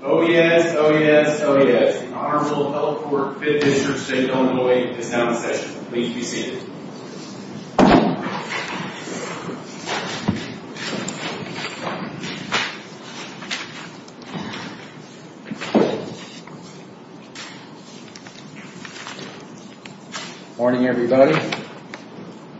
Oh yes, oh yes, oh yes, Honorable Health Court, 5th District, State Domino 8 is now in session, please be seated. Good morning everybody.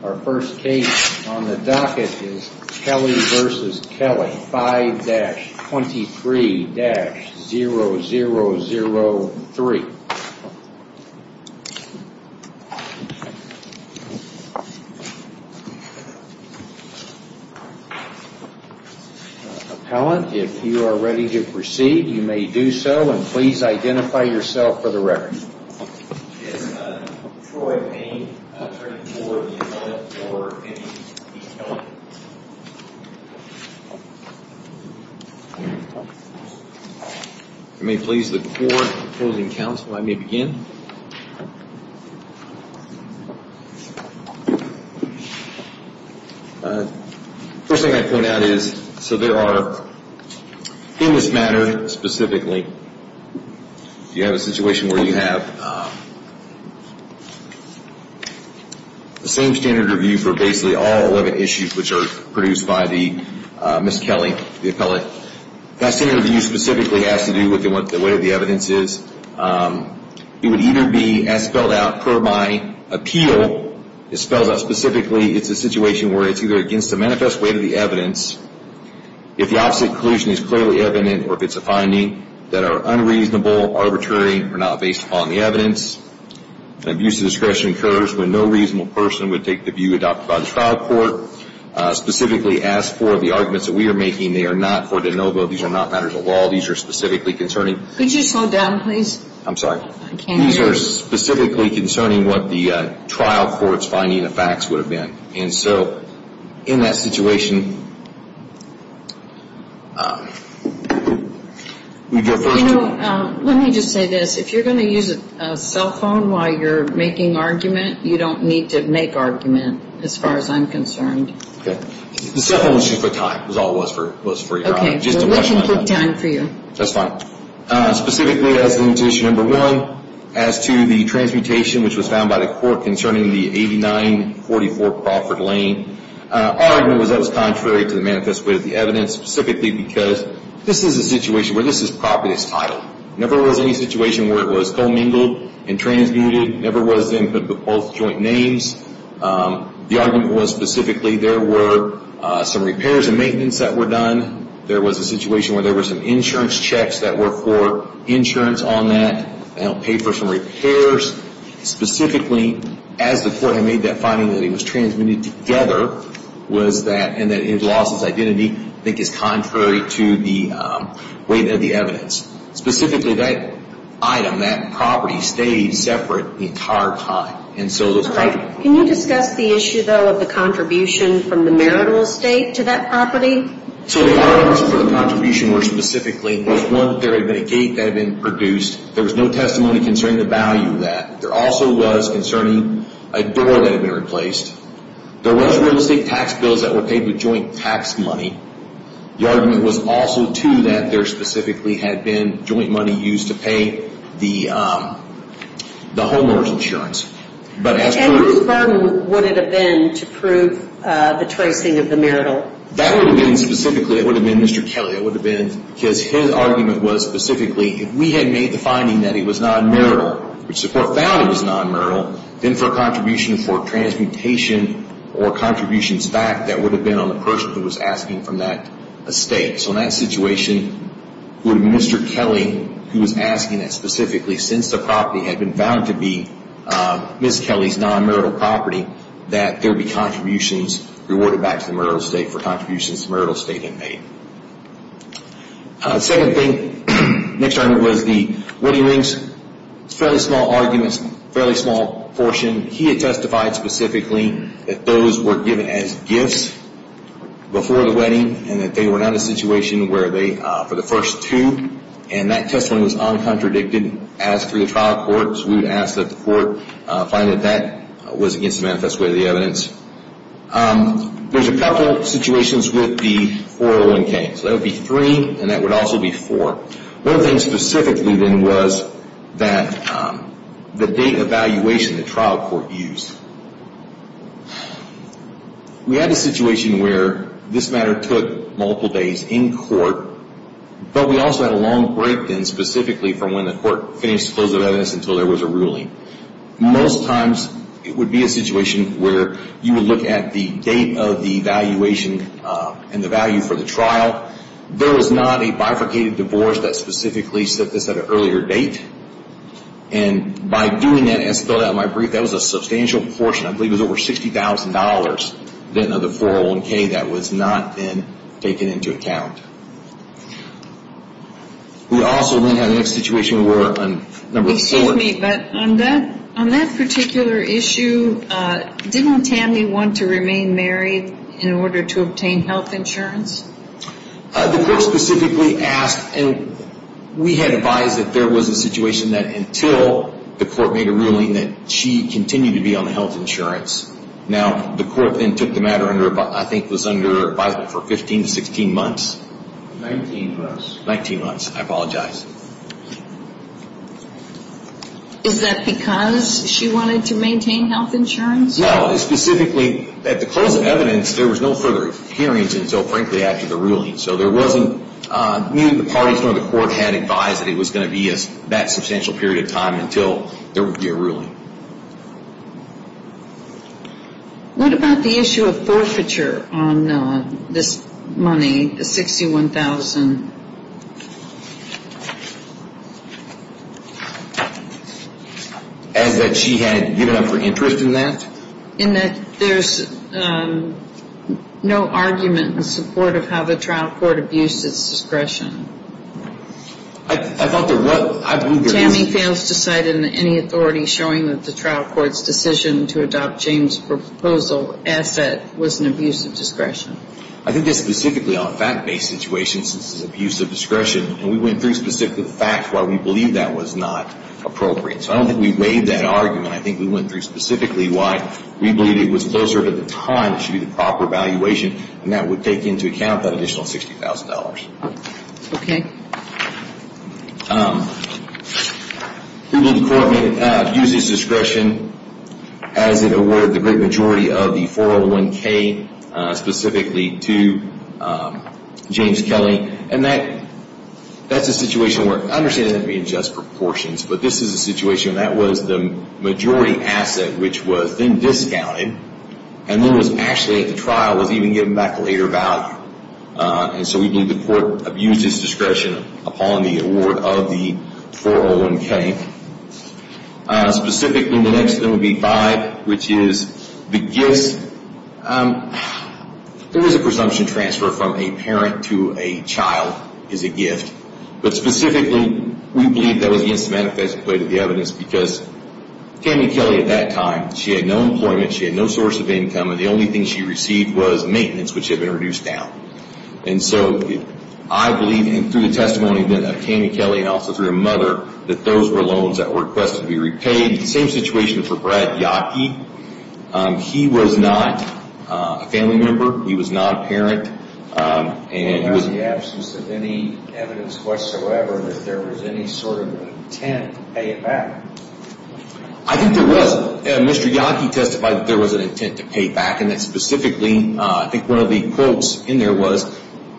Our first case on the docket is Kelly v. Kelly, 5-23-0003. Appellant, if you are ready to proceed, you may do so, and please identify yourself for the record. Troy Payne, 34, the appellant for M.E. Kelly. You may please look forward to the closing counts, and I may begin. First thing I'd point out is, so there are, in this matter specifically, you have a situation where you have the same standard review for basically all 11 issues which are produced by the M.E. Kelly, the appellant. That standard review specifically has to do with what the weight of the evidence is. It would either be, as spelled out per my appeal, it's spelled out specifically, it's a situation where it's either against the manifest weight of the evidence, if the opposite conclusion is clearly evident, or if it's a finding that are unreasonable, arbitrary, or not based upon the evidence. Abuse of discretion occurs when no reasonable person would take the view adopted by the trial court. Specifically, as for the arguments that we are making, they are not for de novo. These are not matters of law. These are specifically concerning... Could you slow down, please? I'm sorry. I can't hear you. These are specifically concerning what the trial court's finding of facts would have been. And so, in that situation, we get first... You know, let me just say this. If you're going to use a cell phone while you're making argument, you don't need to make argument, as far as I'm concerned. Okay. The cell phone issue is for time. That's all it was for your honor. Okay. Well, let's include time for you. That's fine. Specifically, as to issue number one, as to the transmutation which was found by the court concerning the 8944 Crawford Lane, our argument was that it was contrary to the manifest weight of the evidence. Specifically, because this is a situation where this is property's title. Never was any situation where it was co-mingled and transmuted. Never was in both joint names. The argument was, specifically, there were some repairs and maintenance that were done. There was a situation where there were some insurance checks that were for insurance on that. Now, pay for some repairs. Specifically, as the court had made that finding that it was transmitted together, was that, and that it had lost its identity, I think is contrary to the weight of the evidence. Specifically, that item, that property, stayed separate the entire time. And so, those... Can you discuss the issue, though, of the contribution from the marital estate to that property? So, the arguments for the contribution were specifically, there was one that there had been a gate that had been produced. There was no testimony concerning the value of that. There also was concerning a door that had been replaced. There was real estate tax bills that were paid with joint tax money. The argument was also, too, that there specifically had been joint money used to pay the homeowner's insurance. And how firm would it have been to prove the tracing of the marital? That would have been specifically, it would have been Mr. Kelly. It would have been, because his argument was specifically, if we had made the finding that it was non-marital, which the court found it was non-marital, then for a contribution for transmutation or contributions back, that would have been on the person who was asking from that estate. So, in that situation, Mr. Kelly, who was asking that specifically, since the property had been found to be Ms. Kelly's non-marital property, that there would be contributions rewarded back to the marital estate for contributions the marital estate had made. The second thing, the next argument was the wedding rings. Fairly small arguments, fairly small portion. He had testified specifically that those were given as gifts before the wedding and that they were not in a situation where they, for the first two, and that testimony was uncontradicted as through the trial court, so we would ask that the court find that that was against the manifest way of the evidence. There's a couple situations with the 401K. So that would be three and that would also be four. One thing specifically then was that the date of evaluation the trial court used. We had a situation where this matter took multiple days in court, but we also had a long break then, specifically from when the court finished the closure of evidence until there was a ruling. Most times, it would be a situation where you would look at the date of the evaluation and the value for the trial. There was not a bifurcated divorce that specifically set this at an earlier date. And by doing that, as spelled out in my brief, that was a substantial portion, I believe it was over $60,000, then of the 401K that was not then taken into account. We also then have the next situation where on number four. Excuse me, but on that particular issue, didn't Tammy want to remain married in order to obtain health insurance? The court specifically asked, and we had advised that there was a situation that until the court made a ruling that she continued to be on health insurance. Now, the court then took the matter under, I think, was under advisement for 15 to 16 months. 19 months. 19 months. I apologize. Is that because she wanted to maintain health insurance? No, specifically, at the close of evidence, there was no further hearings until, frankly, after the ruling. So there wasn't, neither the parties nor the court had advised that it was going to be that substantial period of time until there would be a ruling. What about the issue of forfeiture on this money, the $61,000? As that she had given up her interest in that? In that there's no argument in support of how the trial court abused its discretion. I thought there was. Tammy fails to cite any authority showing that the trial court's decision to adopt James' proposal as that was an abuse of discretion. I think that's specifically on a fact-based situation, since it's abuse of discretion. And we went through specifically the fact why we believe that was not appropriate. So I don't think we weighed that argument. I think we went through specifically why we believe it was closer to the time it should be the proper valuation and that would take into account that additional $60,000. Okay. We believe the court abused its discretion as it awarded the great majority of the 401K specifically to James Kelly. And that's a situation where I understand that to be in just proportions, but this is a situation where that was the majority asset, which was then discounted and then was actually at the trial was even given back a later value. And so we believe the court abused its discretion upon the award of the 401K. Specifically, the next one would be five, which is the gifts. There is a presumption transfer from a parent to a child is a gift. But specifically, we believe that was the instance of manifestation of the evidence because Tammy Kelly at that time, she had no employment, she had no source of income, and the only thing she received was maintenance, which had been reduced down. And so I believe, and through the testimony of Tammy Kelly and also through her mother, that those were loans that were requested to be repaid. The same situation for Brad Yockey. He was not a family member. He was not a parent. And he was the absence of any evidence whatsoever that there was any sort of intent to pay it back. I think there was. Mr. Yockey testified that there was an intent to pay it back, and that specifically, I think one of the quotes in there was,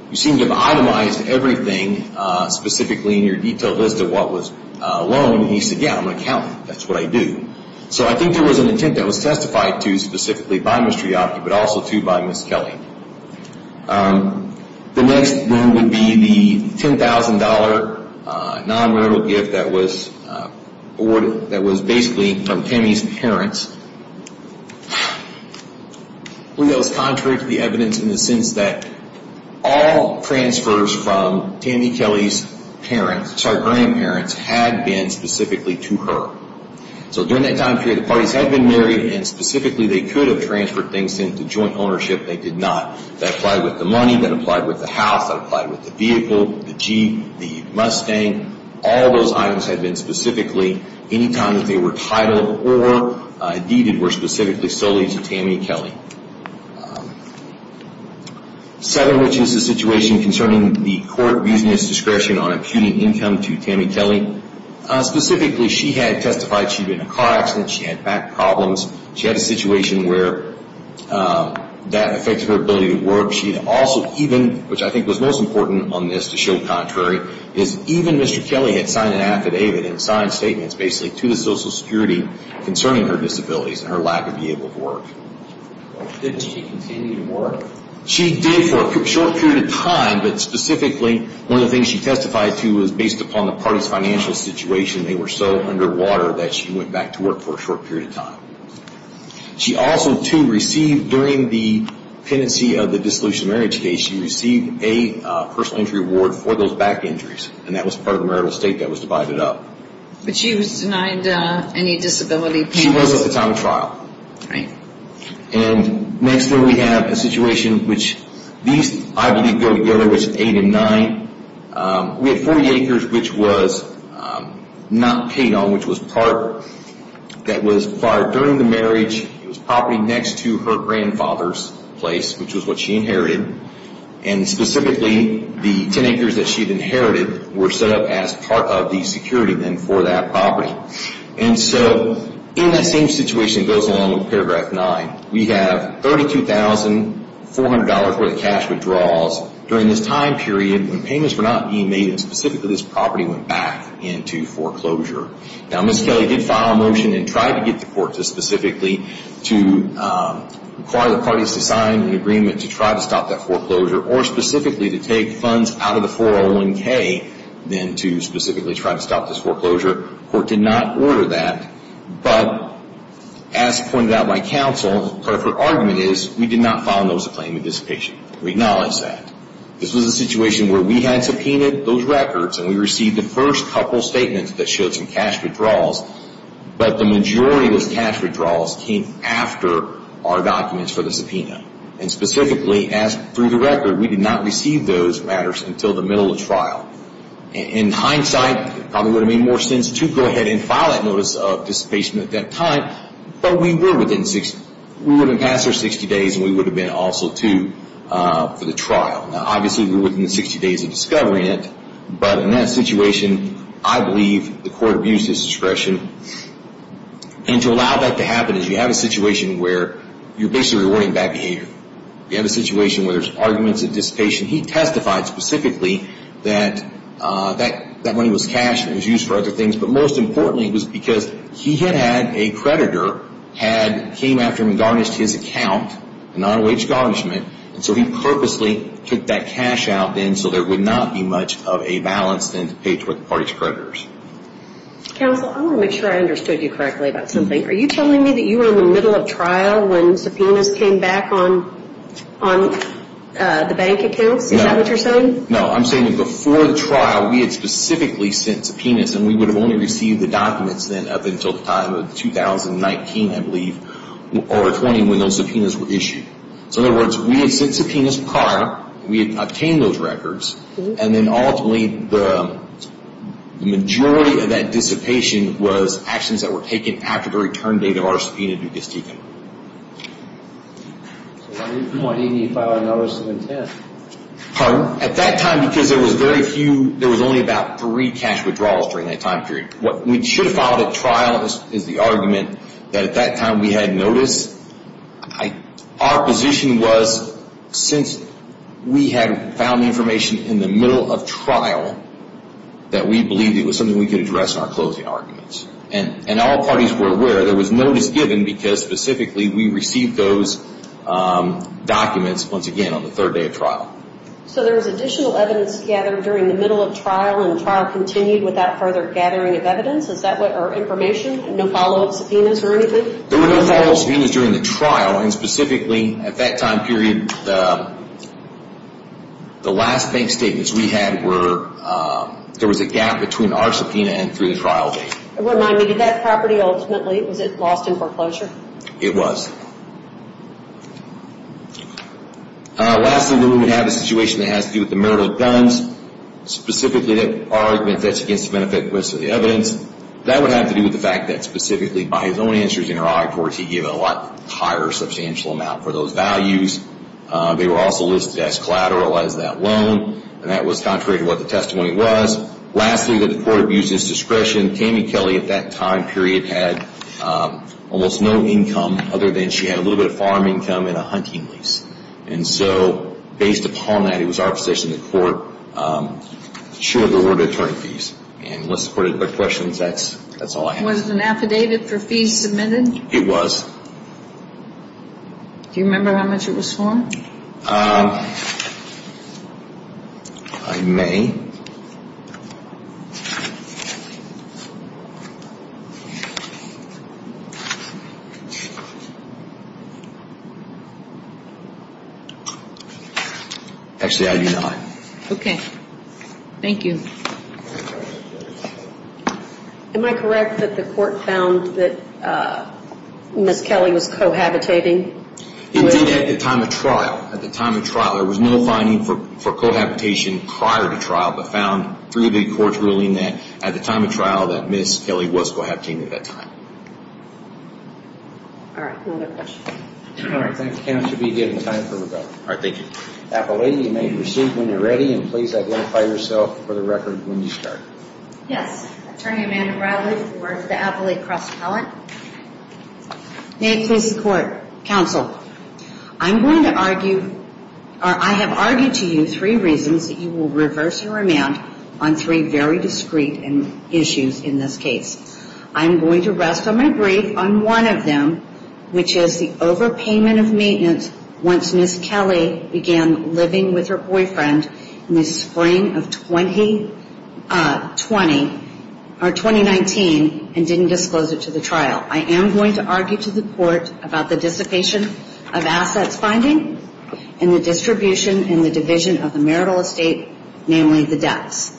you seem to have itemized everything specifically in your detailed list of what was a loan. And he said, yeah, I'm going to count it. That's what I do. So I think there was an intent that was testified to specifically by Mr. Yockey, but also too by Ms. Kelly. The next loan would be the $10,000 non-marital gift that was basically from Tammy's parents. I believe that was contrary to the evidence in the sense that all transfers from Tammy Kelly's parents, sorry, grandparents, had been specifically to her. So during that time period, the parties had been married, and specifically they could have transferred things into joint ownership. They did not. That applied with the money. That applied with the house. That applied with the vehicle, the Jeep, the Mustang. All those items had been specifically, any time that they were titled or deeded, were specifically solely to Tammy Kelly. Seven, which is the situation concerning the court using its discretion on imputing income to Tammy Kelly. Specifically, she had testified she'd been in a car accident. She had back problems. She had a situation where that affected her ability to work. She also even, which I think was most important on this to show contrary, is even Mr. Kelly had signed an affidavit and signed statements basically to the Social Security concerning her disabilities and her lack of being able to work. Did she continue to work? She did for a short period of time, but specifically one of the things she testified to was based upon the party's financial situation. They were so underwater that she went back to work for a short period of time. She also, too, received during the pendency of the dissolution of marriage case, she received a personal injury award for those back injuries, and that was part of the marital estate that was divided up. But she was denied any disability payments? She was at the time of trial. Right. And next here we have a situation which these, I believe, go together, which is eight and nine. We have 40 acres which was not paid on, which was part that was acquired during the marriage. It was property next to her grandfather's place, which was what she inherited, and specifically the 10 acres that she had inherited were set up as part of the security then for that property. And so in that same situation goes along with paragraph nine. We have $32,400 worth of cash withdrawals during this time period when payments were not being made, and specifically this property went back into foreclosure. Now, Ms. Kelly did file a motion and tried to get the court to specifically to require the parties to sign an agreement to try to stop that foreclosure or specifically to take funds out of the 401K then to specifically try to stop this foreclosure. The court did not order that, but as pointed out by counsel, part of her argument is we did not file a notice of claim of dissipation. We acknowledge that. This was a situation where we had subpoenaed those records and we received the first couple statements that showed some cash withdrawals, but the majority of those cash withdrawals came after our documents for the subpoena. And specifically, as per the record, we did not receive those matters until the middle of trial. In hindsight, it probably would have made more sense to go ahead and file that notice of dissipation at that time, but we would have passed our 60 days and we would have been also due for the trial. Now, obviously, we were within the 60 days of discovering it, but in that situation, I believe the court abused his discretion. And to allow that to happen is you have a situation where you're basically rewarding bad behavior. You have a situation where there's arguments of dissipation. He testified specifically that that money was cash and it was used for other things, but most importantly, it was because he had had a creditor came after him and garnished his account, a non-wage garnishment, and so he purposely took that cash out then so there would not be much of a balance then to pay toward the party's creditors. Counsel, I want to make sure I understood you correctly about something. Are you telling me that you were in the middle of trial when subpoenas came back on the bank accounts? Is that what you're saying? No, I'm saying that before the trial, we had specifically sent subpoenas and we would have only received the documents then up until the time of 2019, I believe, or 20 when those subpoenas were issued. So, in other words, we had sent subpoenas prior, we had obtained those records, and then ultimately the majority of that dissipation was actions that were taken after the return date of our subpoena due to Stigum. So why didn't you file a notice of intent? Pardon? At that time, because there was very few, there was only about three cash withdrawals during that time period. What we should have filed at trial is the argument that at that time we had notice. Our position was since we had found information in the middle of trial that we believed it was something we could address in our closing arguments. And all parties were aware there was notice given because, specifically, we received those documents, once again, on the third day of trial. So there was additional evidence gathered during the middle of trial and the trial continued without further gathering of evidence or information? No follow-up subpoenas or anything? There were no follow-up subpoenas during the trial. And specifically, at that time period, the last bank statements we had were, there was a gap between our subpoena and through the trial date. Remind me, did that property ultimately, was it lost in foreclosure? It was. Lastly, we would have a situation that has to do with the murder of Dunn's. Specifically, that argument, that's against the benefit of the evidence. That would have to do with the fact that, specifically, by his own answers in our audit reports, he gave a lot higher substantial amount for those values. They were also listed as collateral as that loan. And that was contrary to what the testimony was. Lastly, that the court abused his discretion. Tammy Kelly, at that time period, had almost no income, other than she had a little bit of farm income and a hunting lease. And so, based upon that, it was our position in the court, she would have been awarded attorney fees. And unless the court had other questions, that's all I have. Was it an affidavit for fees submitted? It was. Do you remember how much it was for? I may. Actually, I do not. Okay. Thank you. Am I correct that the court found that Ms. Kelly was cohabitating? It did at the time of trial. At the time of trial. There was no finding for cohabitation prior to trial, but found through the court's ruling that at the time of trial, that Ms. Kelly was cohabiting at that time. All right. Another question. All right. Thank you, counsel, for giving time for rebuttal. All right. Thank you. Appellee, you may proceed when you're ready. And please identify yourself for the record when you start. Yes. Attorney Amanda Bradley for the Appellee Cross-Pellant. May it please the court. Counsel, I'm going to argue, or I have argued to you three reasons that you will reverse your remand on three very discreet issues in this case. I'm going to rest on my brief on one of them, which is the overpayment of maintenance once Ms. Kelly began living with her boyfriend in the spring of 2019 and didn't disclose it to the trial. I am going to argue to the court about the dissipation of assets finding and the distribution and the division of the marital estate, namely the debts.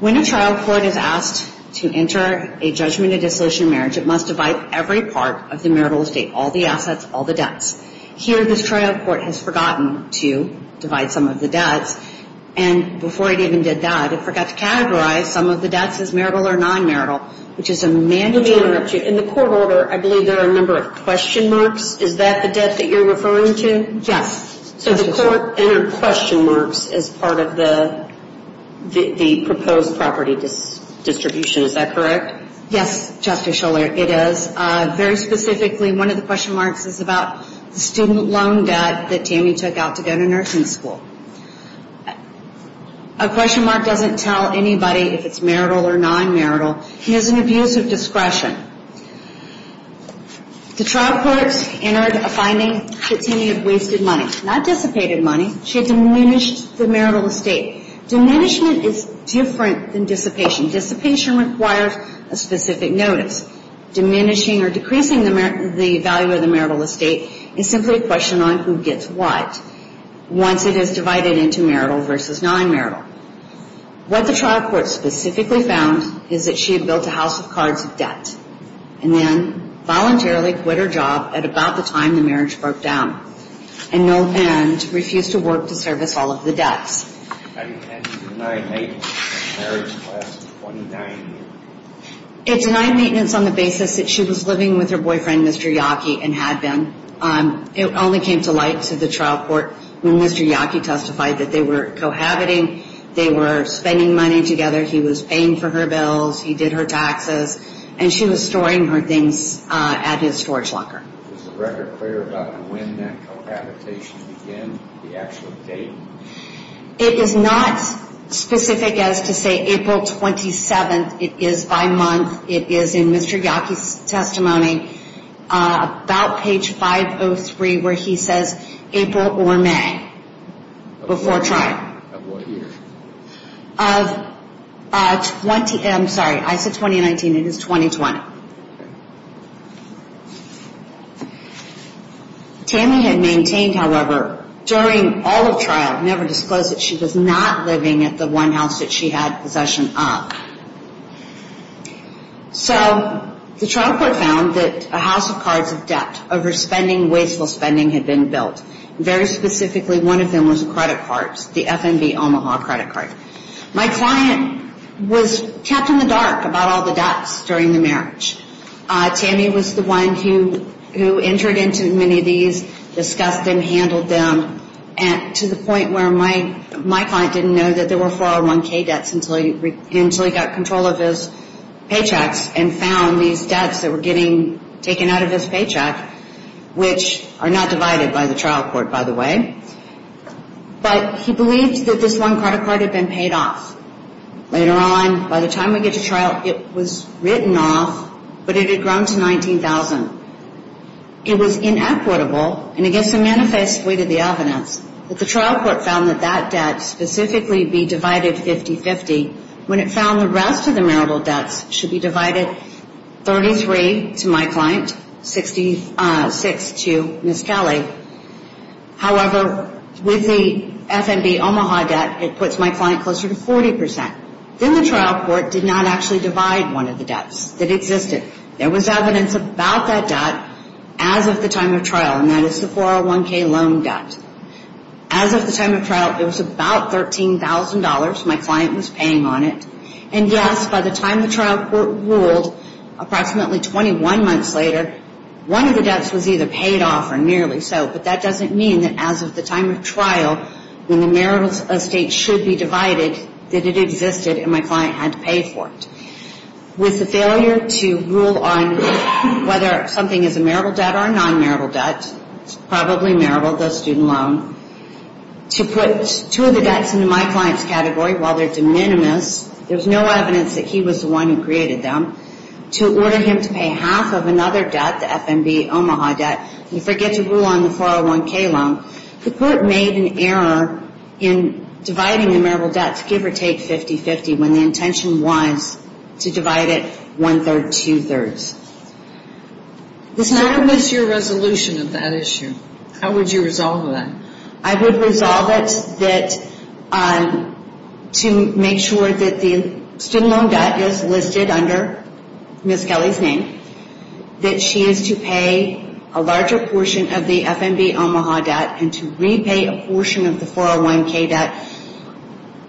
When a trial court is asked to enter a judgment of dissolution of marriage, it must divide every part of the marital estate, all the assets, all the debts. Here, this trial court has forgotten to divide some of the debts, and before it even did that, it forgot to categorize some of the debts as marital or non-marital, which is a mandate. Let me interrupt you. In the court order, I believe there are a number of question marks. Is that the debt that you're referring to? Yes. So the court entered question marks as part of the proposed property distribution. Is that correct? Yes, Justice Schuller, it is. Very specifically, one of the question marks is about the student loan debt that Tammy took out to go to nursing school. A question mark doesn't tell anybody if it's marital or non-marital. Here's an abuse of discretion. The trial courts entered a finding that Tammy had wasted money, not dissipated money. She had diminished the marital estate. Diminishment is different than dissipation. Dissipation requires a specific notice. Diminishing or decreasing the value of the marital estate is simply a question on who gets what. Once it is divided into marital versus non-marital. What the trial court specifically found is that she had built a house of cards of debt and then voluntarily quit her job at about the time the marriage broke down and no end refused to work to service all of the debts. It denied maintenance on the basis that she was living with her boyfriend, Mr. Yockey, and had been. It only came to light to the trial court when Mr. Yockey testified that they were cohabiting. They were spending money together. He was paying for her bills. He did her taxes. And she was storing her things at his storage locker. Is the record clear about when that cohabitation began, the actual date? It is not specific as to say April 27th. It is by month. It is in Mr. Yockey's testimony about page 503 where he says April or May before trial. Of what year? I'm sorry. I said 2019. It is 2020. Tammy had maintained, however, during all of trial, never disclosed that she was not living at the one house that she had possession of. So the trial court found that a house of cards of debt over spending, wasteful spending, had been built. Very specifically, one of them was credit cards, the FNB Omaha credit card. My client was kept in the dark about all the debts during the marriage. Tammy was the one who entered into many of these, discussed them, handled them, to the point where my client didn't know that there were 401K debts until he got control of his paychecks and found these debts that were getting taken out of his paycheck, which are not divided by the trial court, by the way. But he believed that this one credit card had been paid off. Later on, by the time we get to trial, it was written off, but it had grown to $19,000. It was inequitable, and it gets a manifest weight of the evidence, but the trial court found that that debt specifically be divided 50-50 when it found the rest of the marital debts should be divided 33 to my client, 66 to Ms. Kelly. However, with the FNB Omaha debt, it puts my client closer to 40%. Then the trial court did not actually divide one of the debts that existed. There was evidence about that debt as of the time of trial, and that is the 401K loan debt. As of the time of trial, it was about $13,000. My client was paying on it. And yes, by the time the trial court ruled approximately 21 months later, one of the debts was either paid off or nearly so, but that doesn't mean that as of the time of trial, when the marital estate should be divided, that it existed and my client had to pay for it. With the failure to rule on whether something is a marital debt or a non-marital debt, it's probably marital, the student loan, to put two of the debts into my client's category, while they're de minimis, there's no evidence that he was the one who created them, to order him to pay half of another debt, the FNB Omaha debt, and forget to rule on the 401K loan, the court made an error in dividing the marital debts give or take 50-50 when the intention was to divide it one-third, two-thirds. What was your resolution of that issue? How would you resolve that? I would resolve it to make sure that the student loan debt is listed under Ms. Kelly's name, that she is to pay a larger portion of the FNB Omaha debt and to repay a portion of the 401K debt.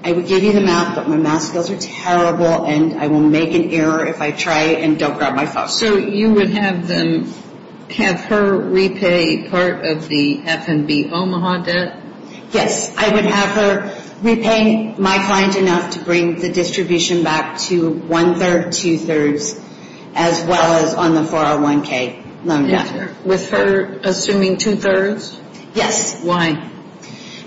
I would give you the math, but my math skills are terrible and I will make an error if I try and don't grab my phone. So you would have her repay part of the FNB Omaha debt? Yes, I would have her repay my client enough to bring the distribution back to one-third, two-thirds, as well as on the 401K loan debt. With her assuming two-thirds? Yes. Why?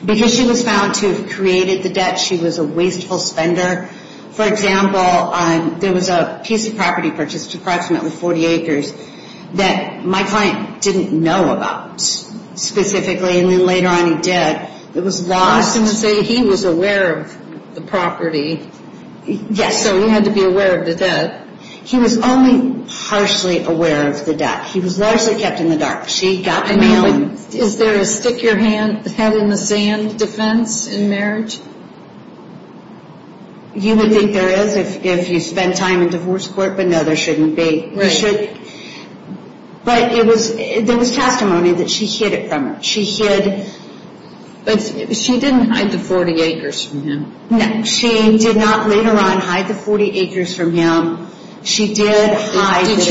Because she was found to have created the debt. She was a wasteful spender. For example, there was a piece of property purchased, approximately 40 acres, that my client didn't know about specifically, and then later on he did. It was lost. I was going to say he was aware of the property. Yes. So he had to be aware of the debt. He was only partially aware of the debt. He was largely kept in the dark. Is there a stick-your-head-in-the-sand defense in marriage? You would think there is if you spend time in divorce court, but no, there shouldn't be. But there was testimony that she hid it from him. She didn't hide the 40 acres from him. No, she did not later on hide the 40 acres from him. Did she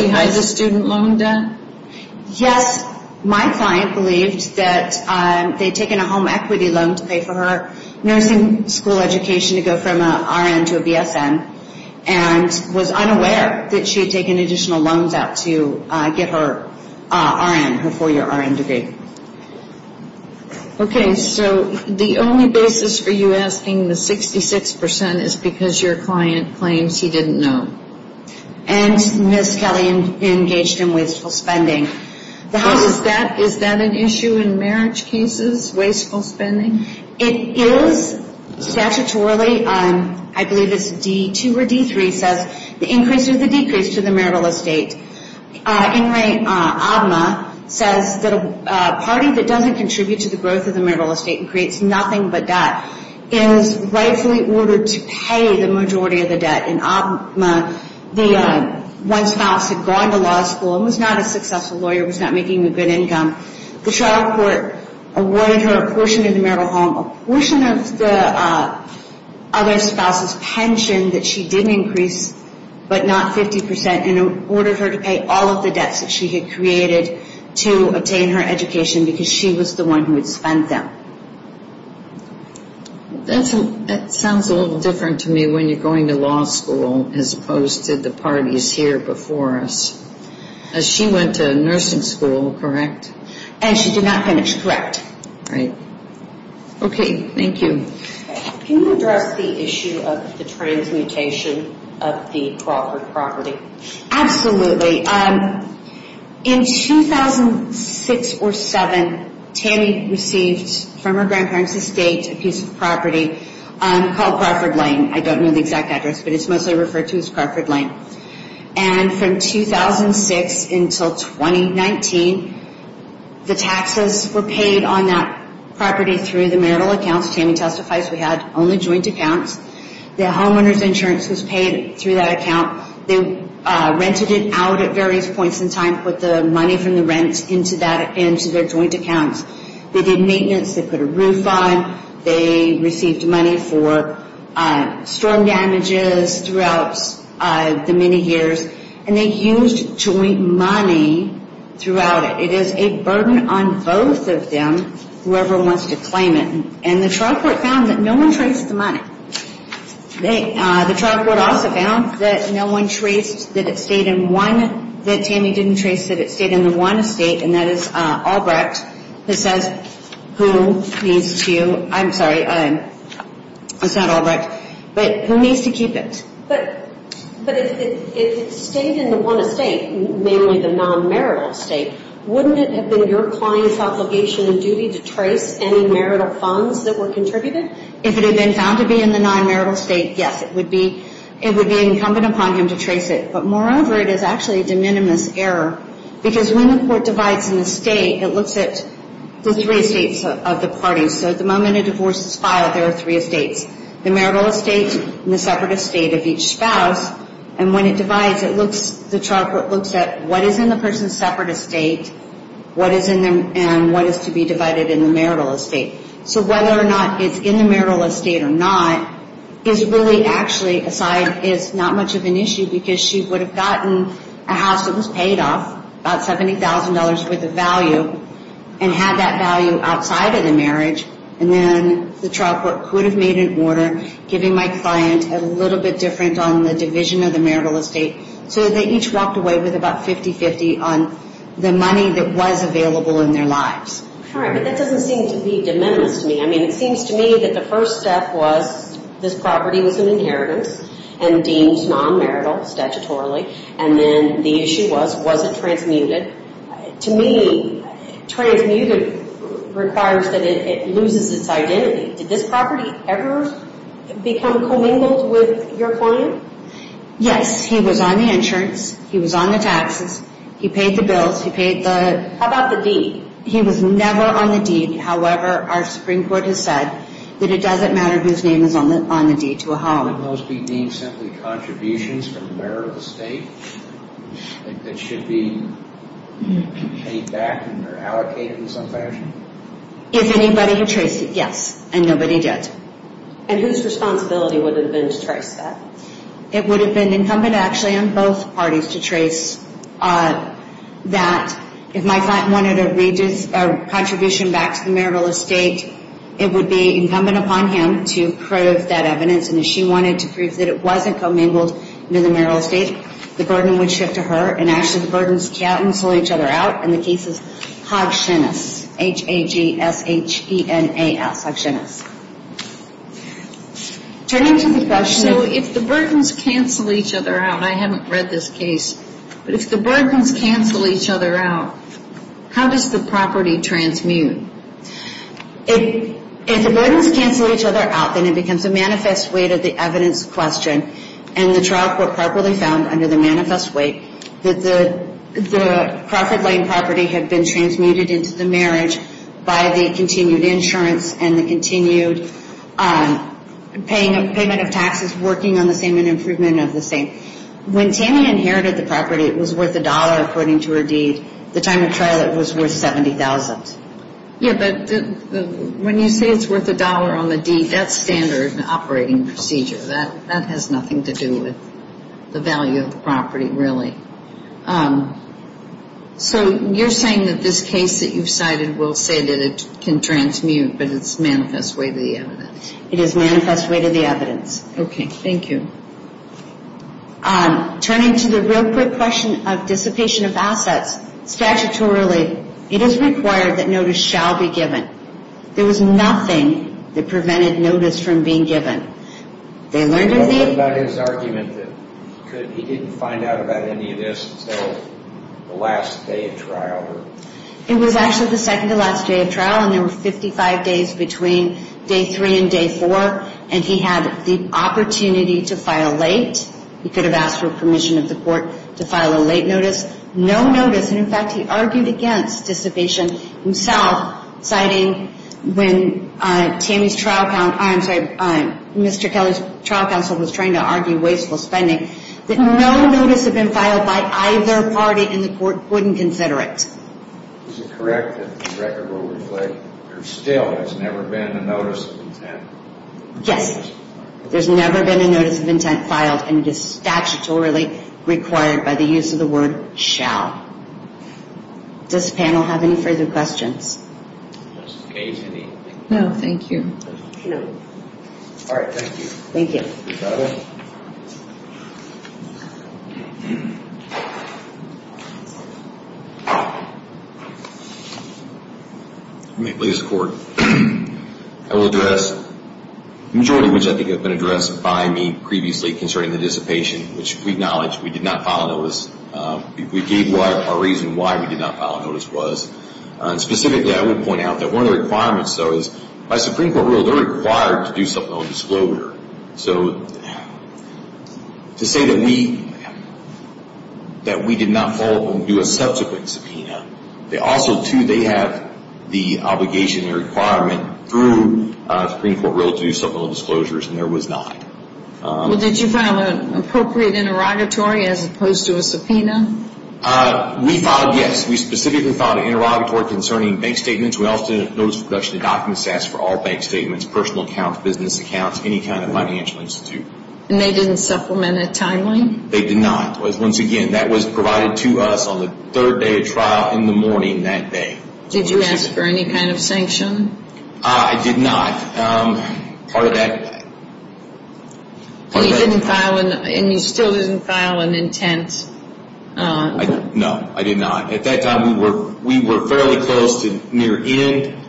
hide the student loan debt? Yes. My client believed that they had taken a home equity loan to pay for her nursing school education to go from an R.N. to a B.S.N. and was unaware that she had taken additional loans out to get her R.N., her four-year R.N. degree. Okay. So the only basis for you asking the 66 percent is because your client claims he didn't know. And Ms. Kelly engaged in wasteful spending. Is that an issue in marriage cases, wasteful spending? It is. Statutorily, I believe it's D-2 or D-3 says the increase or the decrease to the marital estate. In Ray Abma says that a party that doesn't contribute to the growth of the marital estate and creates nothing but debt is rightfully ordered to pay the majority of the debt. In Abma, the one spouse had gone to law school and was not a successful lawyer, was not making a good income. The trial court awarded her a portion of the marital home, a portion of the other spouse's pension that she didn't increase but not 50 percent and ordered her to pay all of the debts that she had created to obtain her education because she was the one who had spent them. That sounds a little different to me when you're going to law school as opposed to the parties here before us. She went to nursing school, correct? And she did not finish, correct. Right. Okay, thank you. Can you address the issue of the transmutation of the Crawford property? Absolutely. In 2006 or 2007, Tammy received from her grandparents' estate a piece of property called Crawford Lane. I don't know the exact address, but it's mostly referred to as Crawford Lane. And from 2006 until 2019, the taxes were paid on that property through the marital accounts. Tammy testifies we had only joint accounts. The homeowner's insurance was paid through that account. They rented it out at various points in time, put the money from the rent into their joint accounts. They did maintenance. They put a roof on. They received money for storm damages throughout the many years. And they used joint money throughout it. It is a burden on both of them, whoever wants to claim it. And the trial court found that no one traced the money. The trial court also found that no one traced that it stayed in one, that Tammy didn't trace that it stayed in the one estate, and that is Albrecht. This says who needs to, I'm sorry, it's not Albrecht, but who needs to keep it. But if it stayed in the one estate, namely the non-marital estate, wouldn't it have been your client's obligation and duty to trace any marital funds that were contributed? If it had been found to be in the non-marital estate, yes, it would be incumbent upon him to trace it. But moreover, it is actually a de minimis error because when the court divides an estate, it looks at the three estates of the parties. So at the moment a divorce is filed, there are three estates, the marital estate and the separate estate of each spouse. And when it divides, the trial court looks at what is in the person's separate estate and what is to be divided in the marital estate. So whether or not it's in the marital estate or not is really actually, aside, is not much of an issue because she would have gotten a house that was paid off, about $70,000 worth of value, and had that value outside of the marriage. And then the trial court could have made an order, giving my client a little bit different on the division of the marital estate, so that they each walked away with about 50-50 on the money that was available in their lives. All right, but that doesn't seem to be de minimis to me. I mean, it seems to me that the first step was this property was an inheritance and deemed non-marital statutorily, and then the issue was, was it transmuted? To me, transmuted requires that it loses its identity. Did this property ever become commingled with your client? Yes, he was on the insurance, he was on the taxes, he paid the bills, he paid the... How about the deed? He was never on the deed. However, our Supreme Court has said that it doesn't matter whose name is on the deed to a home. Could those be deemed simply contributions from the marital estate that should be paid back or allocated in some fashion? If anybody had traced it, yes, and nobody did. And whose responsibility would have been to trace that? It would have been incumbent, actually, on both parties to trace that. If my client wanted a contribution back to the marital estate, it would be incumbent upon him to prove that evidence, and if she wanted to prove that it wasn't commingled with the marital estate, the burden would shift to her, and actually the burdens cancel each other out. And the case is Hagenas, H-A-G-S-H-E-N-A-S, Hagenas. Turning to the question of... So if the burdens cancel each other out, and I haven't read this case, but if the burdens cancel each other out, how does the property transmute? If the burdens cancel each other out, then it becomes a manifest weight of the evidence question, and the trial court properly found under the manifest weight that the Crawford Lane property had been transmuted into the marriage by the continued insurance and the continued payment of taxes, working on the same and improvement of the same. When Tammy inherited the property, it was worth a dollar, according to her deed. At the time of trial, it was worth $70,000. Yeah, but when you say it's worth a dollar on the deed, that's standard operating procedure. That has nothing to do with the value of the property, really. So you're saying that this case that you've cited will say that it can transmute, but it's manifest weight of the evidence. It is manifest weight of the evidence. Okay, thank you. Turning to the real quick question of dissipation of assets, statutorily it is required that notice shall be given. There was nothing that prevented notice from being given. They learned of the... He didn't find out about any of this until the last day of trial. It was actually the second to last day of trial, and there were 55 days between day three and day four, and he had the opportunity to file late. He could have asked for permission of the court to file a late notice. No notice. And, in fact, he argued against dissipation himself, citing when Tammy's trial counsel... I'm sorry. Mr. Kelly's trial counsel was trying to argue wasteful spending. No notice had been filed by either party, and the court wouldn't consider it. Is it correct that the record will reflect there still has never been a notice of intent? Yes. There's never been a notice of intent filed, and it is statutorily required by the use of the word shall. Does the panel have any further questions? No, thank you. No. All right, thank you. Thank you. You're welcome. May it please the Court. I will address the majority, which I think have been addressed by me previously, concerning the dissipation, which we acknowledge we did not file a notice. We gave our reason why we did not file a notice was. Specifically, I would point out that one of the requirements, though, is by Supreme Court rule, they're required to do supplemental disclosure. So to say that we did not follow up and do a subsequent subpoena, also, too, they have the obligation and requirement through Supreme Court rule to do supplemental disclosures, and there was not. Did you file an appropriate interrogatory as opposed to a subpoena? We filed, yes. We specifically filed an interrogatory concerning bank statements. We also did a notice of production of document stats for all bank statements, personal accounts, business accounts, any kind of financial institute. And they didn't supplement it timely? They did not. Once again, that was provided to us on the third day of trial in the morning that day. Did you ask for any kind of sanction? I did not. Part of that. And you still didn't file an intent? No, I did not. At that time, we were fairly close to near end.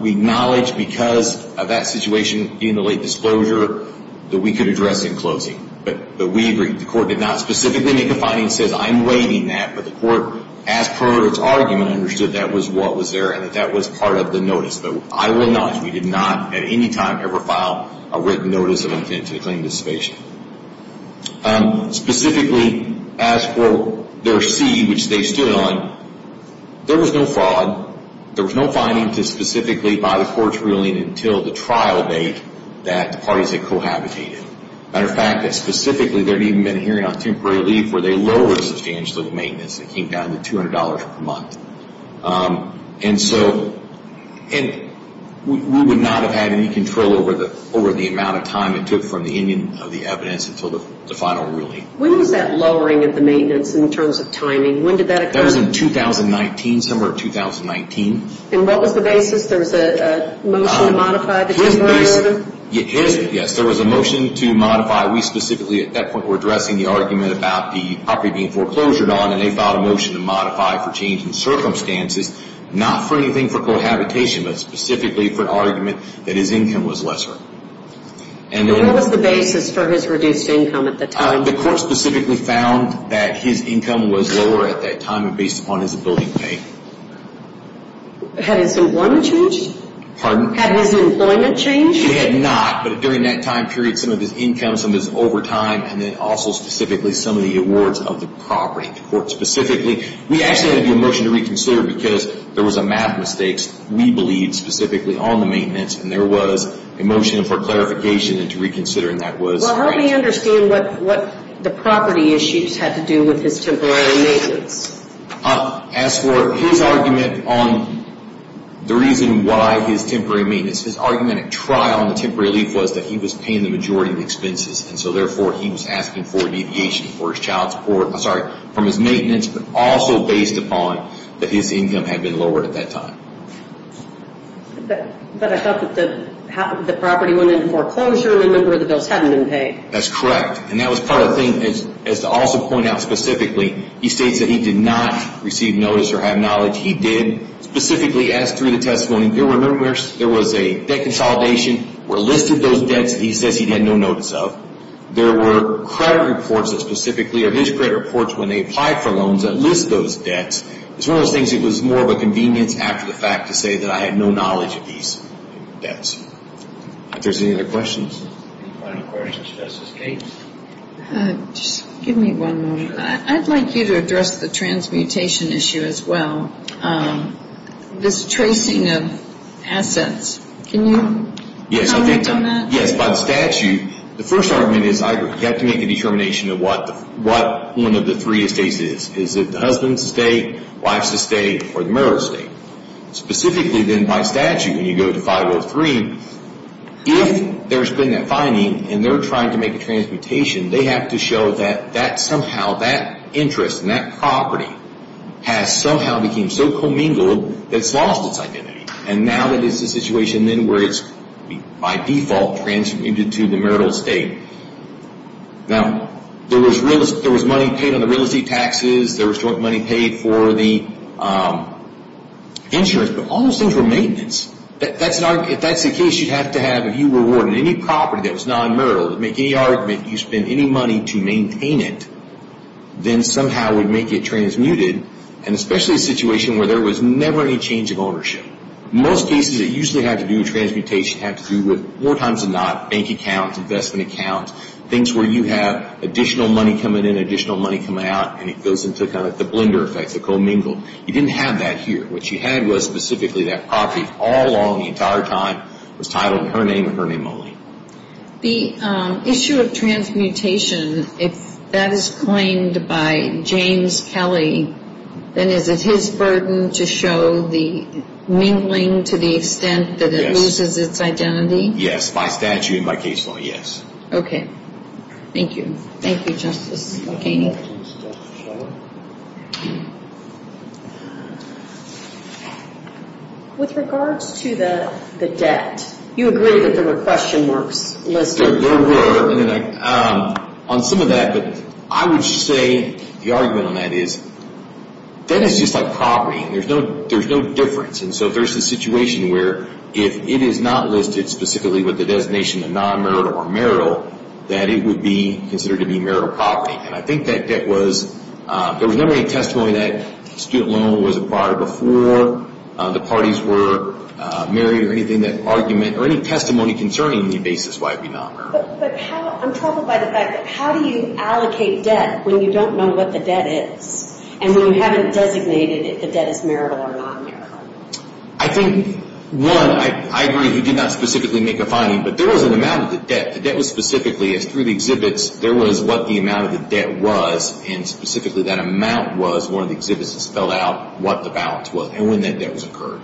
We acknowledged because of that situation in the late disclosure that we could address in closing. But we agreed. The court did not specifically make a finding that says I'm waiving that. But the court, as per its argument, understood that was what was there and that that was part of the notice. But I will acknowledge we did not at any time ever file a written notice of intent to claim dissipation. Specifically, as for their C, which they stood on, there was no fraud. There was no finding to specifically by the court's ruling until the trial date that the parties had cohabitated. Matter of fact, specifically, there had even been a hearing on temporary leave where they lowered substantial maintenance. It came down to $200 per month. And so we would not have had any control over the amount of time it took from the ending of the evidence until the final ruling. When was that lowering of the maintenance in terms of timing? When did that occur? That was in 2019, somewhere in 2019. And what was the basis? There was a motion to modify the temporary order? Yes, there was a motion to modify. We specifically at that point were addressing the argument about the property being foreclosured on, and they filed a motion to modify for changing circumstances, not for anything for cohabitation, but specifically for an argument that his income was lesser. And what was the basis for his reduced income at the time? The court specifically found that his income was lower at that time based upon his ability to pay. Had his employment changed? Pardon? Had his employment changed? It had not, but during that time period, some of his income, some of his overtime, and then also specifically some of the awards of the property. The court specifically, we actually had to do a motion to reconsider because there was a math mistake. We believed specifically on the maintenance, and there was a motion for clarification and to reconsider, and that was right. Well, help me understand what the property issues had to do with his temporary maintenance. As for his argument on the reason why his temporary maintenance, his argument at trial on the temporary relief was that he was paying the majority of the expenses, and so therefore he was asking for deviation for his child support, I'm sorry, from his maintenance, but also based upon that his income had been lowered at that time. But I thought that the property went into foreclosure and a number of the bills hadn't been paid. That's correct, and that was part of the thing. As to also point out specifically, he states that he did not receive notice or have knowledge. He did specifically, as through the testimony, there was a debt consolidation where listed those debts that he says he had no notice of. There were credit reports that specifically, or his credit reports when they applied for loans that list those debts. It's one of those things that was more of a convenience after the fact to say that I had no knowledge of these debts. If there's any other questions. Any final questions, Justice Gates? Just give me one moment. I'd like you to address the transmutation issue as well. This tracing of assets. Can you comment on that? Yes, by the statute, the first argument is you have to make a determination of what one of the three estates is. Is it the husband's estate, wife's estate, or the mother's estate? Specifically then by statute when you go to 503, if there's been a finding and they're trying to make a transmutation, they have to show that somehow that interest in that property has somehow become so commingled that it's lost its identity. And now that it's a situation then where it's by default transmitted to the marital estate. Now, there was money paid on the real estate taxes. There was money paid for the insurance. But all those things were maintenance. If that's the case, you'd have to have, if you were awarding any property that was non-marital, make any argument, you spend any money to maintain it, then somehow it would make it transmuted. And especially a situation where there was never any change of ownership. Most cases that usually have to do with transmutation have to do with more times than not bank accounts, investment accounts, things where you have additional money coming in, additional money coming out, and it goes into kind of the blender effect, the commingled. You didn't have that here. What you had was specifically that property all along the entire time was titled in her name and her name only. The issue of transmutation, if that is claimed by James Kelly, then is it his burden to show the mingling to the extent that it loses its identity? Yes, by statute and by case law, yes. Okay, thank you. Thank you, Justice McKinney. With regards to the debt, you agree that there were question marks listed. There were. On some of that, but I would say the argument on that is debt is just like property. There's no difference. And so there's a situation where if it is not listed specifically with the designation of non-marital or marital, that it would be considered to be marital property. And I think that debt was, there was never any testimony that a student loan was acquired before the parties were married or anything of that argument or any testimony concerning the basis why it would be non-marital. But I'm troubled by the fact that how do you allocate debt when you don't know what the debt is and when you haven't designated if the debt is marital or non-marital? I think, one, I agree you did not specifically make a finding, but there was an amount of the debt. The debt was specifically, as through the exhibits, there was what the amount of the debt was, and specifically that amount was one of the exhibits that spelled out what the balance was and when that debt occurred.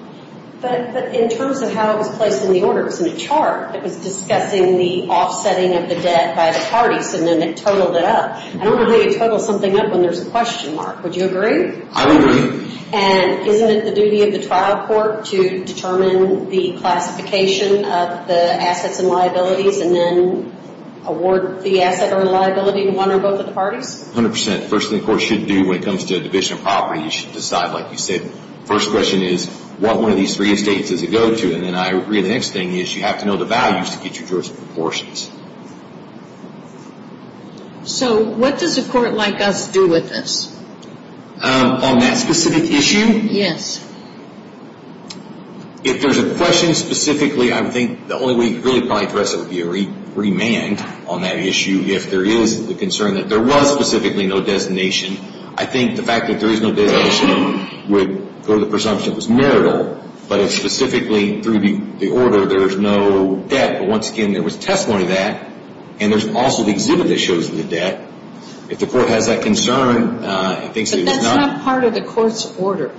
But in terms of how it was placed in the order, it was in a chart. It was discussing the offsetting of the debt by the parties, and then it totaled it up. I wonder how you total something up when there's a question mark. Would you agree? I would agree. And isn't it the duty of the trial court to determine the classification of the assets and liabilities and then award the asset or liability to one or both of the parties? A hundred percent. The first thing the court should do when it comes to a division of property, you should decide, like you said, the first question is what one of these three estates does it go to? And then I agree the next thing is you have to know the values to get your jurisdiction proportions. So what does a court like us do with this? On that specific issue? Yes. If there's a question specifically, I think the only way you could really probably address it would be a remand on that issue. If there is the concern that there was specifically no designation, I think the fact that there is no designation would go to the presumption that it was marital. But if specifically through the order there's no debt, but once again there was testimony of that, and there's also the exhibit that shows the debt, if the court has that concern, it thinks that it was not. But that's not part of the court's order.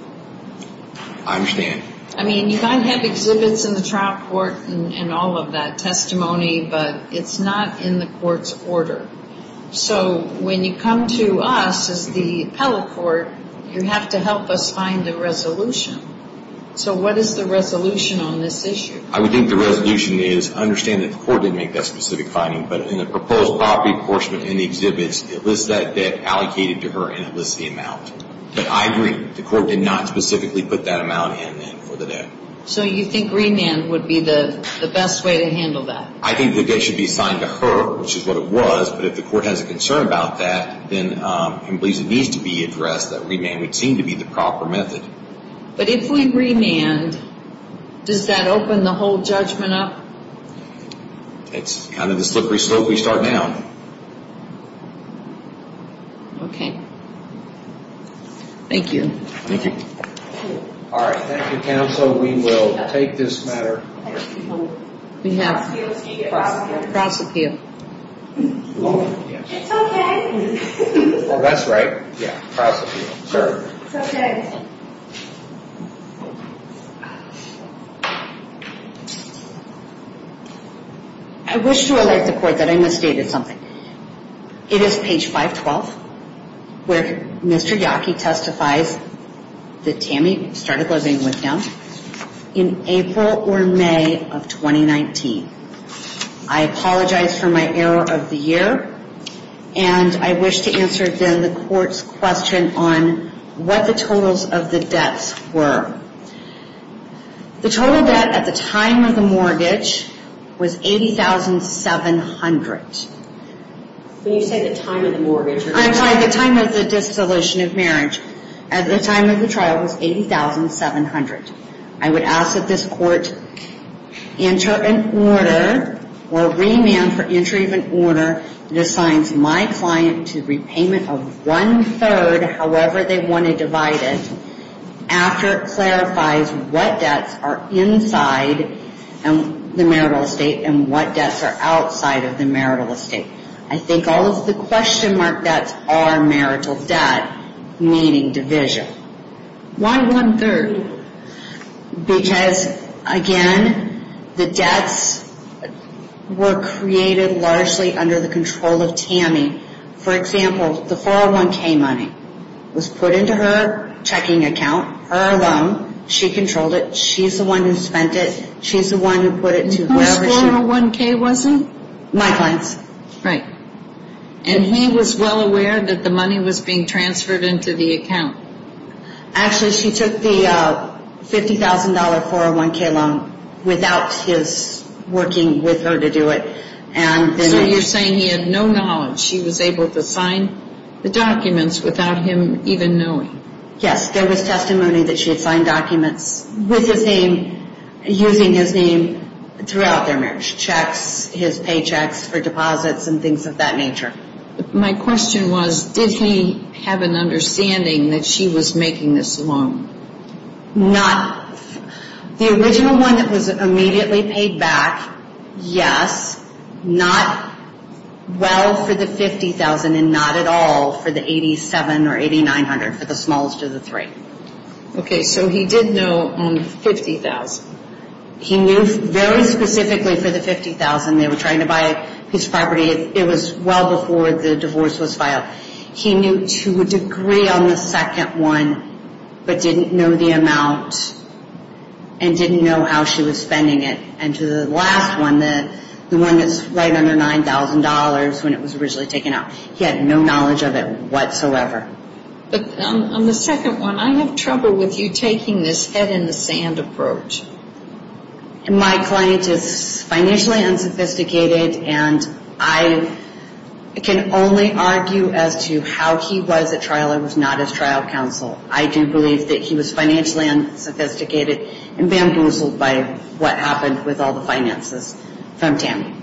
I understand. I mean, you might have exhibits in the trial court and all of that testimony, but it's not in the court's order. So when you come to us as the appellate court, you have to help us find a resolution. So what is the resolution on this issue? I would think the resolution is understand that the court didn't make that specific finding, but in the proposed property proportion in the exhibits, it lists that debt allocated to her and it lists the amount. But I agree, the court did not specifically put that amount in for the debt. So you think remand would be the best way to handle that? I think the debt should be assigned to her, which is what it was. But if the court has a concern about that and believes it needs to be addressed, that remand would seem to be the proper method. But if we remand, does that open the whole judgment up? It's kind of the slippery slope we start down. Okay. Thank you. All right. Thank you, counsel. We will take this matter. We have cross-appeal. It's okay. Well, that's right. Yeah, cross-appeal. It's okay. I wish to alert the court that I misstated something. It is page 512 where Mr. Yockey testifies that Tammy started living with him in April or May of 2019. I apologize for my error of the year. And I wish to answer, then, the court's question on what the total amount is. What the totals of the debts were. The total debt at the time of the mortgage was $80,700. When you say the time of the mortgage? I'm sorry, the time of the dissolution of marriage. At the time of the trial, it was $80,700. I would ask that this court enter an order or remand for entry of an order that assigns my client to repayment of one-third, however they want to divide it, after it clarifies what debts are inside the marital estate and what debts are outside of the marital estate. I think all of the question mark debts are marital debt, meaning division. Why one-third? Because, again, the debts were created largely under the control of Tammy. For example, the 401k money was put into her checking account, her alone. She controlled it. She's the one who spent it. She's the one who put it to whoever she wanted. Whose 401k was it? My client's. Right. And he was well aware that the money was being transferred into the account. Actually, she took the $50,000 401k loan without his working with her to do it. So you're saying he had no knowledge. She was able to sign the documents without him even knowing. Yes, there was testimony that she had signed documents with his name, using his name throughout their marriage. Checks, his paychecks for deposits and things of that nature. My question was, did he have an understanding that she was making this loan? Not. The original one that was immediately paid back, yes. Not well for the $50,000 and not at all for the $8,700 or $8,900, for the smallest of the three. Okay. So he did know on the $50,000. He knew very specifically for the $50,000. They were trying to buy his property. It was well before the divorce was filed. He knew to a degree on the second one but didn't know the amount and didn't know how she was spending it. And to the last one, the one that's right under $9,000 when it was originally taken out, he had no knowledge of it whatsoever. But on the second one, I have trouble with you taking this head in the sand approach. My client is financially unsophisticated, and I can only argue as to how he was at trial and was not as trial counsel. I do believe that he was financially unsophisticated and bamboozled by what happened with all the finances from Tammy.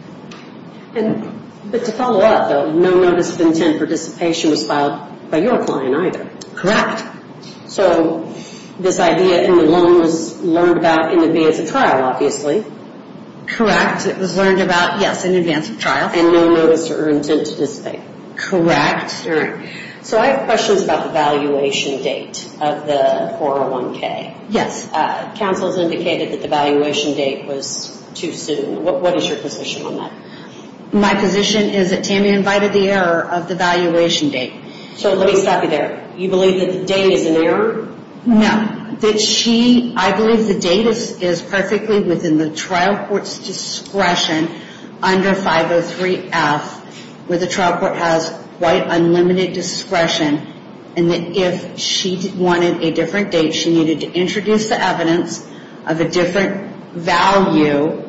But to follow up, though, no notice of intent participation was filed by your client either. Correct. Correct. So this idea in the loan was learned about in the VA as a trial, obviously. Correct. It was learned about, yes, in advance of trial. And no notice or intent to participate. Correct. All right. So I have questions about the valuation date of the 401K. Yes. Counsel has indicated that the valuation date was too soon. What is your position on that? My position is that Tammy invited the error of the valuation date. So let me stop you there. You believe that the date is an error? No. I believe the date is perfectly within the trial court's discretion under 503F, where the trial court has quite unlimited discretion, and that if she wanted a different date, she needed to introduce the evidence of a different value.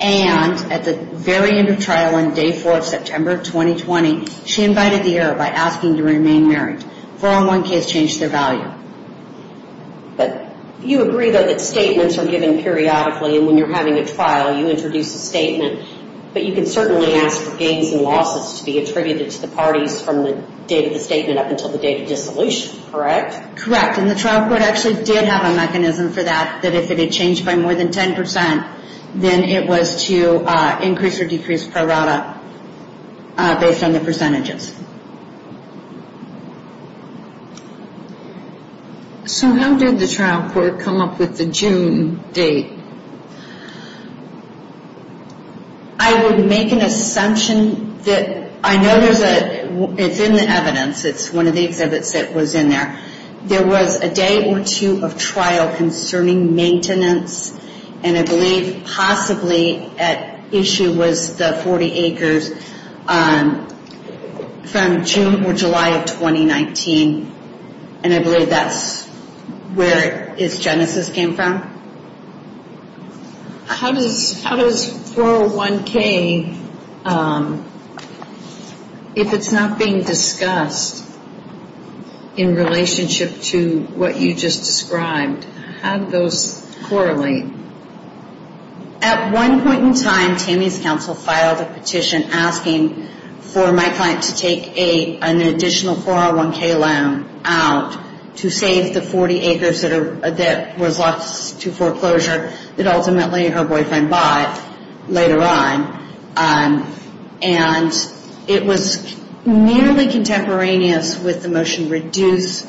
And at the very end of trial on day four of September of 2020, she invited the error by asking to remain married. 401K has changed their value. But you agree, though, that statements are given periodically, and when you're having a trial, you introduce a statement. But you can certainly ask for gains and losses to be attributed to the parties from the date of the statement up until the date of dissolution, correct? Correct. And the trial court actually did have a mechanism for that, that if it had changed by more than 10%, then it was to increase or decrease prorata based on the percentages. So how did the trial court come up with the June date? I would make an assumption that I know there's a, it's in the evidence. It's one of the exhibits that was in there. There was a day or two of trial concerning maintenance, and I believe possibly at issue was the 40 acres from June or July of 2019, and I believe that's where its genesis came from. How does 401K, if it's not being discussed in relationship to what you just described, how do those correlate? At one point in time, TAMI's counsel filed a petition asking for my client to take an additional 401K loan out to save the 40 acres that was lost to foreclosure that ultimately her boyfriend bought later on, and it was nearly contemporaneous with the motion to reduce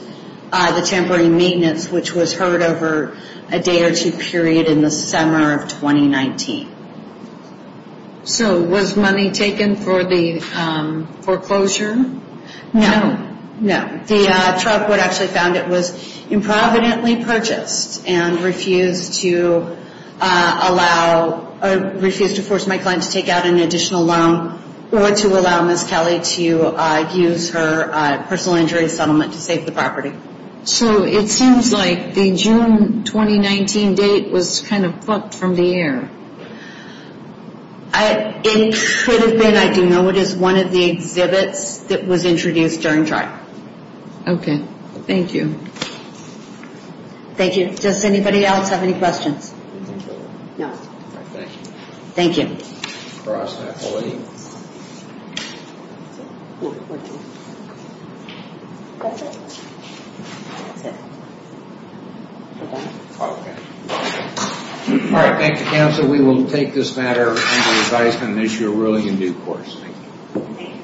the temporary maintenance, which was heard over a day or two period in the summer of 2019. So was money taken for the foreclosure? No. No. The trial court actually found it was improvidently purchased and refused to allow or refused to force my client to take out an additional loan or to allow Ms. Kelly to use her personal injury settlement to save the property. So it seems like the June 2019 date was kind of plucked from the air. It could have been. I do know it is one of the exhibits that was introduced during trial. Okay. Thank you. Thank you. Does anybody else have any questions? Thank you. Okay. All right. Thank you, counsel. We will take this matter into revision and issue a ruling in due course. Thank you.